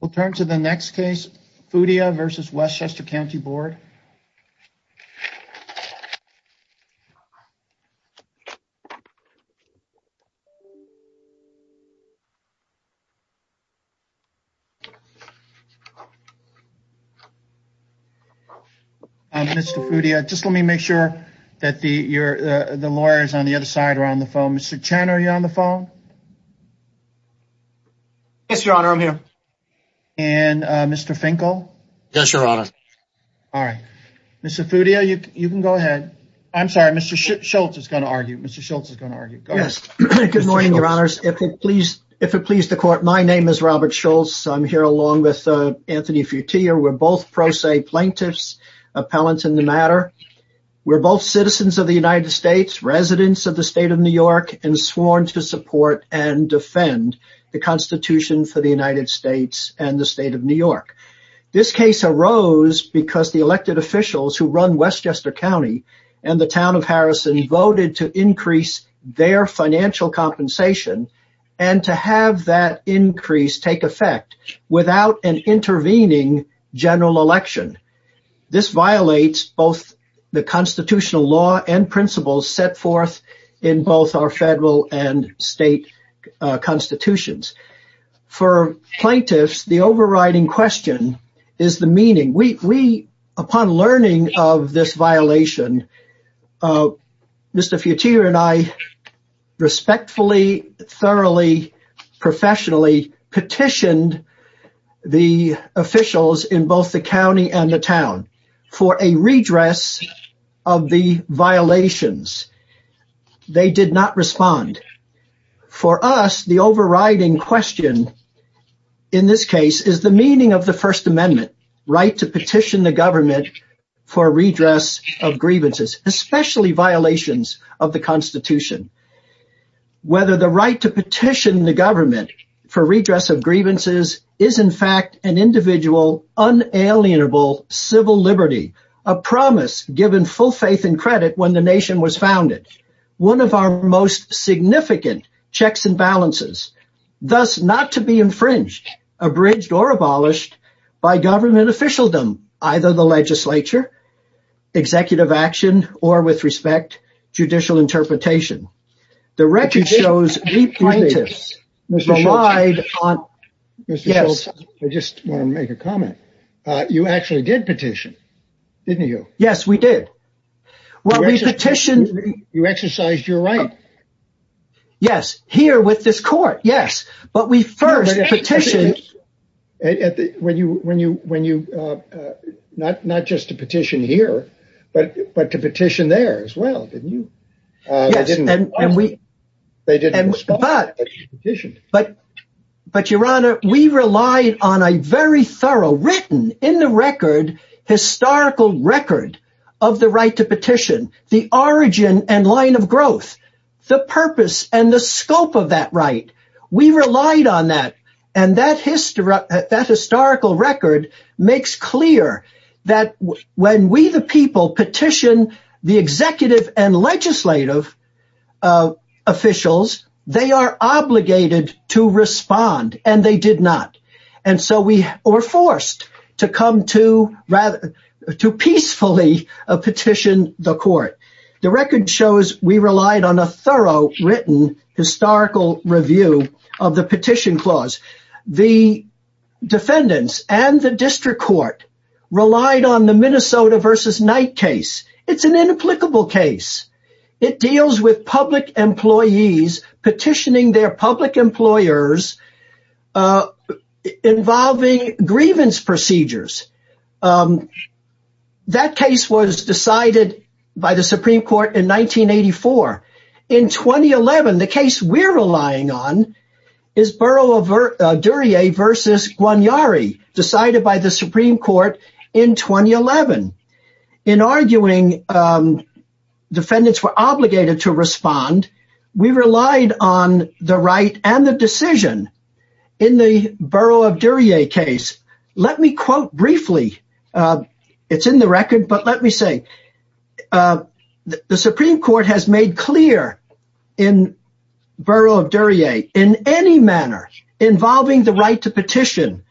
We'll turn to the next case, FUTIA v. Westchester County Board. Mr. FUTIA, just let me make sure that the lawyers on the other side are on the phone. Mr. Chan, are you on the phone? Yes, Your Honor. I'm here. And Mr. Finkel? Yes, Your Honor. All right. Mr. FUTIA, you can go ahead. I'm sorry. Mr. Schultz is going to argue. Mr. Schultz is going to argue. Go ahead. Good morning, Your Honors. If it please the Court, my name is Robert Schultz. I'm here along with Anthony FUTIA. We're both pro se plaintiffs, appellants in the matter. We're both citizens of the United States, residents of the state of New York, and sworn to support and defend the Constitution for the United States and the state of New York. This case arose because the elected officials who run Westchester County and the town of Harrison voted to increase their financial compensation and to have that increase take effect without an intervening general election. This violates both the constitutional law and principles set forth in both our federal and state constitutions. For plaintiffs, the overriding question is the meaning. Upon learning of this violation, Mr. FUTIA and I respectfully, thoroughly, professionally petitioned the officials in both the county and the town for a redress of the violations. They did not respond. For us, the overriding question in this case is the meaning of the First Amendment right to petition the government for redress of grievances, especially violations of the Constitution. Whether the right to petition the government for redress of grievances is, in fact, an individual, unalienable civil liberty, a promise given full faith and credit when the nation was founded, one of our most significant checks and balances, thus not to be infringed, abridged, or abolished by government officialdom, either the legislature, executive action, or, with respect, judicial interpretation. The record shows we plaintiffs relied on... Mr. Schultz, I just want to make a comment. You actually did petition, didn't you? Yes, we did. Well, we petitioned... You exercised your right. Yes, here with this court, yes, but we first petitioned... Not just to petition here, but to petition there as well, didn't you? Yes, and we... But, Your Honor, we relied on a very thorough, written in the record, historical record of the right to petition, the origin and line of growth, the purpose and the scope of that right. We relied on that, and that historical record makes clear that when we, the people, petition the executive and legislative officials, they are obligated to respond, and they did not, and so we were forced to come to, rather, to peacefully petition the court. The record shows we relied on a thorough, written, historical review of the petition clause. The defendants and the district court relied on the Minnesota v. Knight case. It's an inapplicable case. It deals with public employees petitioning their public employers involving grievance procedures. That case was decided by the Supreme Court in 1984. In 2011, the case we're relying on is Borough of Duryea v. Guarneri, decided by the Supreme Court in 2011. In arguing, defendants were obligated to respond. We relied on the right and the decision in the Borough of Duryea case. Let me quote briefly. It's in the record, but let me say, the Supreme Court has made clear in Borough of Duryea, in any manner involving the right to petition,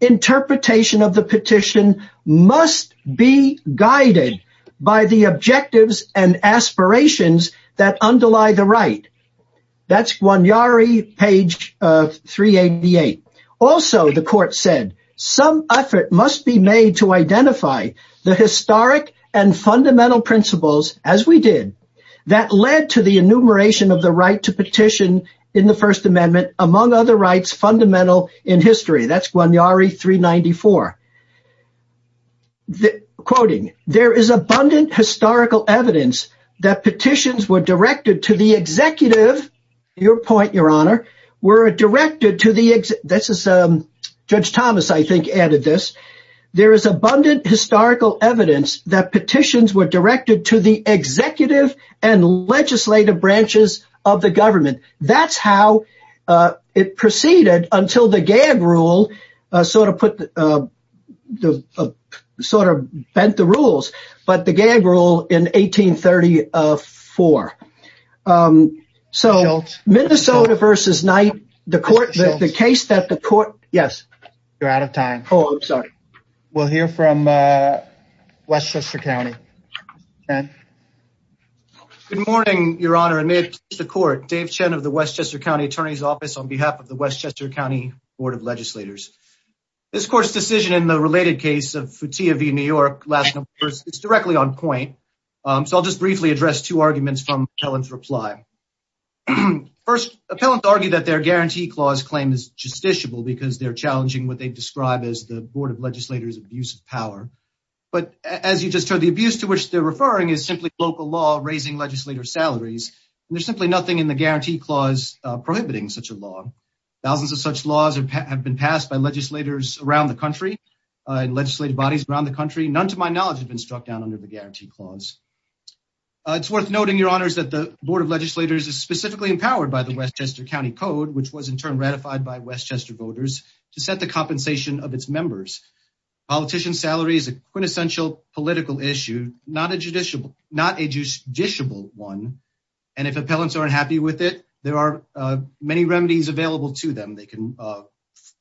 interpretation of the petition must be guided by the objectives and aspirations that underlie the right. That's Guarneri, page 388. Also, the court said, some effort must be made to identify the historic and fundamental principles, as we did, that led to the enumeration of the right to petition in the First Amendment, among other rights fundamental in history. That's abundant historical evidence that petitions were directed to the executive, your point, your honor, were directed to the, this is Judge Thomas, I think, added this. There is abundant historical evidence that petitions were directed to the executive and legislative branches of the gang rule in 1834. So, Minnesota versus Knight, the court, the case that the court, yes. You're out of time. Oh, I'm sorry. We'll hear from Westchester County. Good morning, your honor, and may it please the court. Dave Chen of the Westchester County Attorney's Office on behalf of the Westchester County Board of Legislators. This court's decision in the related case of Fotia v. New York, it's directly on point. So, I'll just briefly address two arguments from Appellant's reply. First, Appellants argue that their Guarantee Clause claim is justiciable because they're challenging what they describe as the Board of Legislators' abuse of power. But as you just heard, the abuse to which they're referring is simply local law raising legislators' salaries. There's simply nothing in the Guarantee Clause prohibiting such law. Thousands of such laws have been passed by legislators around the country and legislative bodies around the country. None, to my knowledge, have been struck down under the Guarantee Clause. It's worth noting, your honors, that the Board of Legislators is specifically empowered by the Westchester County Code, which was in turn ratified by Westchester voters to set the compensation of its members. Politician's salary is a quintessential political issue, not a judiciable one. And if Appellants are unhappy with it, there are many remedies available to them.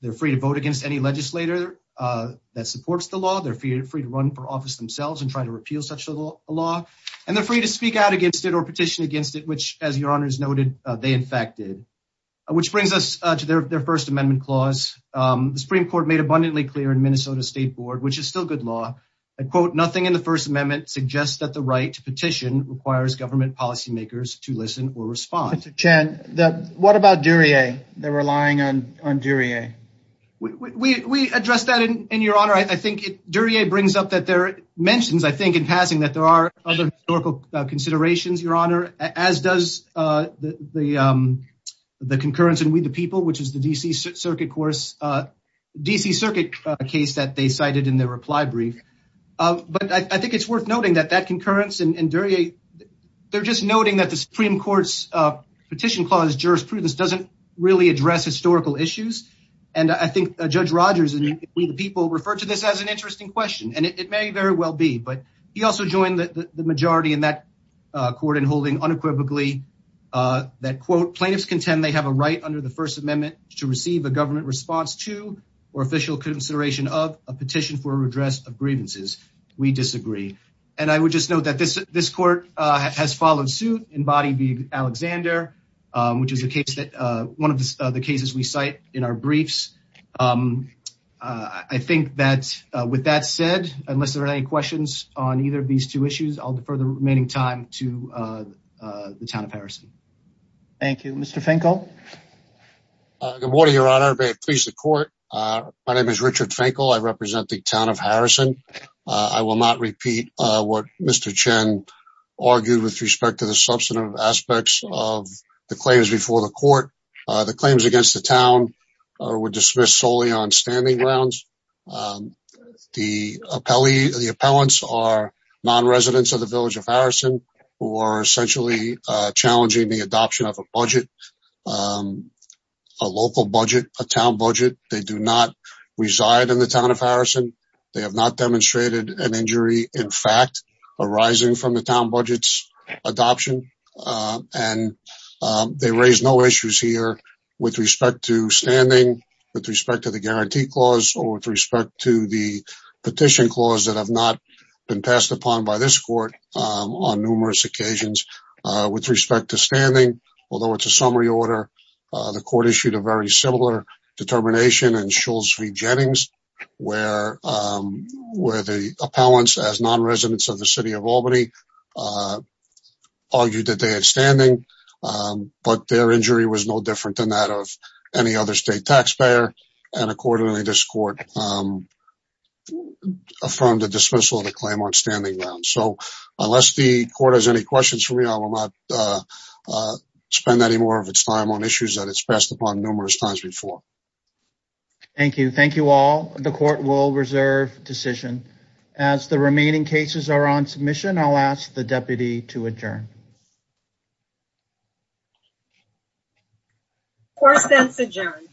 They're free to vote against any legislator that supports the law. They're free to run for office themselves and try to repeal such a law. And they're free to speak out against it or petition against it, which, as your honors noted, they in fact did. Which brings us to their First Amendment Clause. The Supreme Court made abundantly clear in that the right to petition requires government policy makers to listen or respond. What about Duryea? They're relying on Duryea. We addressed that in your honor. I think Duryea brings up that there are mentions, I think, in passing that there are other historical considerations, your honor, as does the concurrence in We the People, which is the and Duryea, they're just noting that the Supreme Court's Petition Clause jurisprudence doesn't really address historical issues. And I think Judge Rogers in We the People referred to this as an interesting question, and it may very well be. But he also joined the majority in that court in holding unequivocally that, quote, plaintiffs contend they have a right under the First Amendment to receive a government response to or official consideration of a petition for redress of I would just note that this court has followed suit in body Alexander, which is a case that one of the cases we cite in our briefs. I think that with that said, unless there are any questions on either of these two issues, I'll defer the remaining time to the Town of Harrison. Thank you. Mr. Finkel? Good morning, your honor. May it please the court. My name is Richard Finkel. I represent the Town of Harrison. I will not repeat what Mr. Chen argued with respect to the substantive aspects of the claims before the court. The claims against the town were dismissed solely on standing grounds. The appellants are non-residents of the Village of Harrison who are essentially challenging the adoption of a budget, a local budget, a town budget. They do not reside in the Town of Harrison. They have not demonstrated an injury, in fact, arising from the town budget's adoption. And they raise no issues here with respect to standing, with respect to the guarantee clause, or with respect to the petition clause that have not been passed upon by this court on numerous occasions. With respect to standing, although it's a summary order, the court issued a very similar determination in Schulz v. Jennings where the appellants, as non-residents of the City of Albany, argued that they had standing, but their injury was no different than that of any other state taxpayer. And accordingly, this court affirmed the dismissal of the claim on standing grounds. So unless the court has any questions for me, I will not spend any more of its time on issues that it's passed upon numerous times before. Thank you. Thank you all. The court will reserve decision. As the remaining cases are on submission, I'll ask the deputy to adjourn. Course then is adjourned.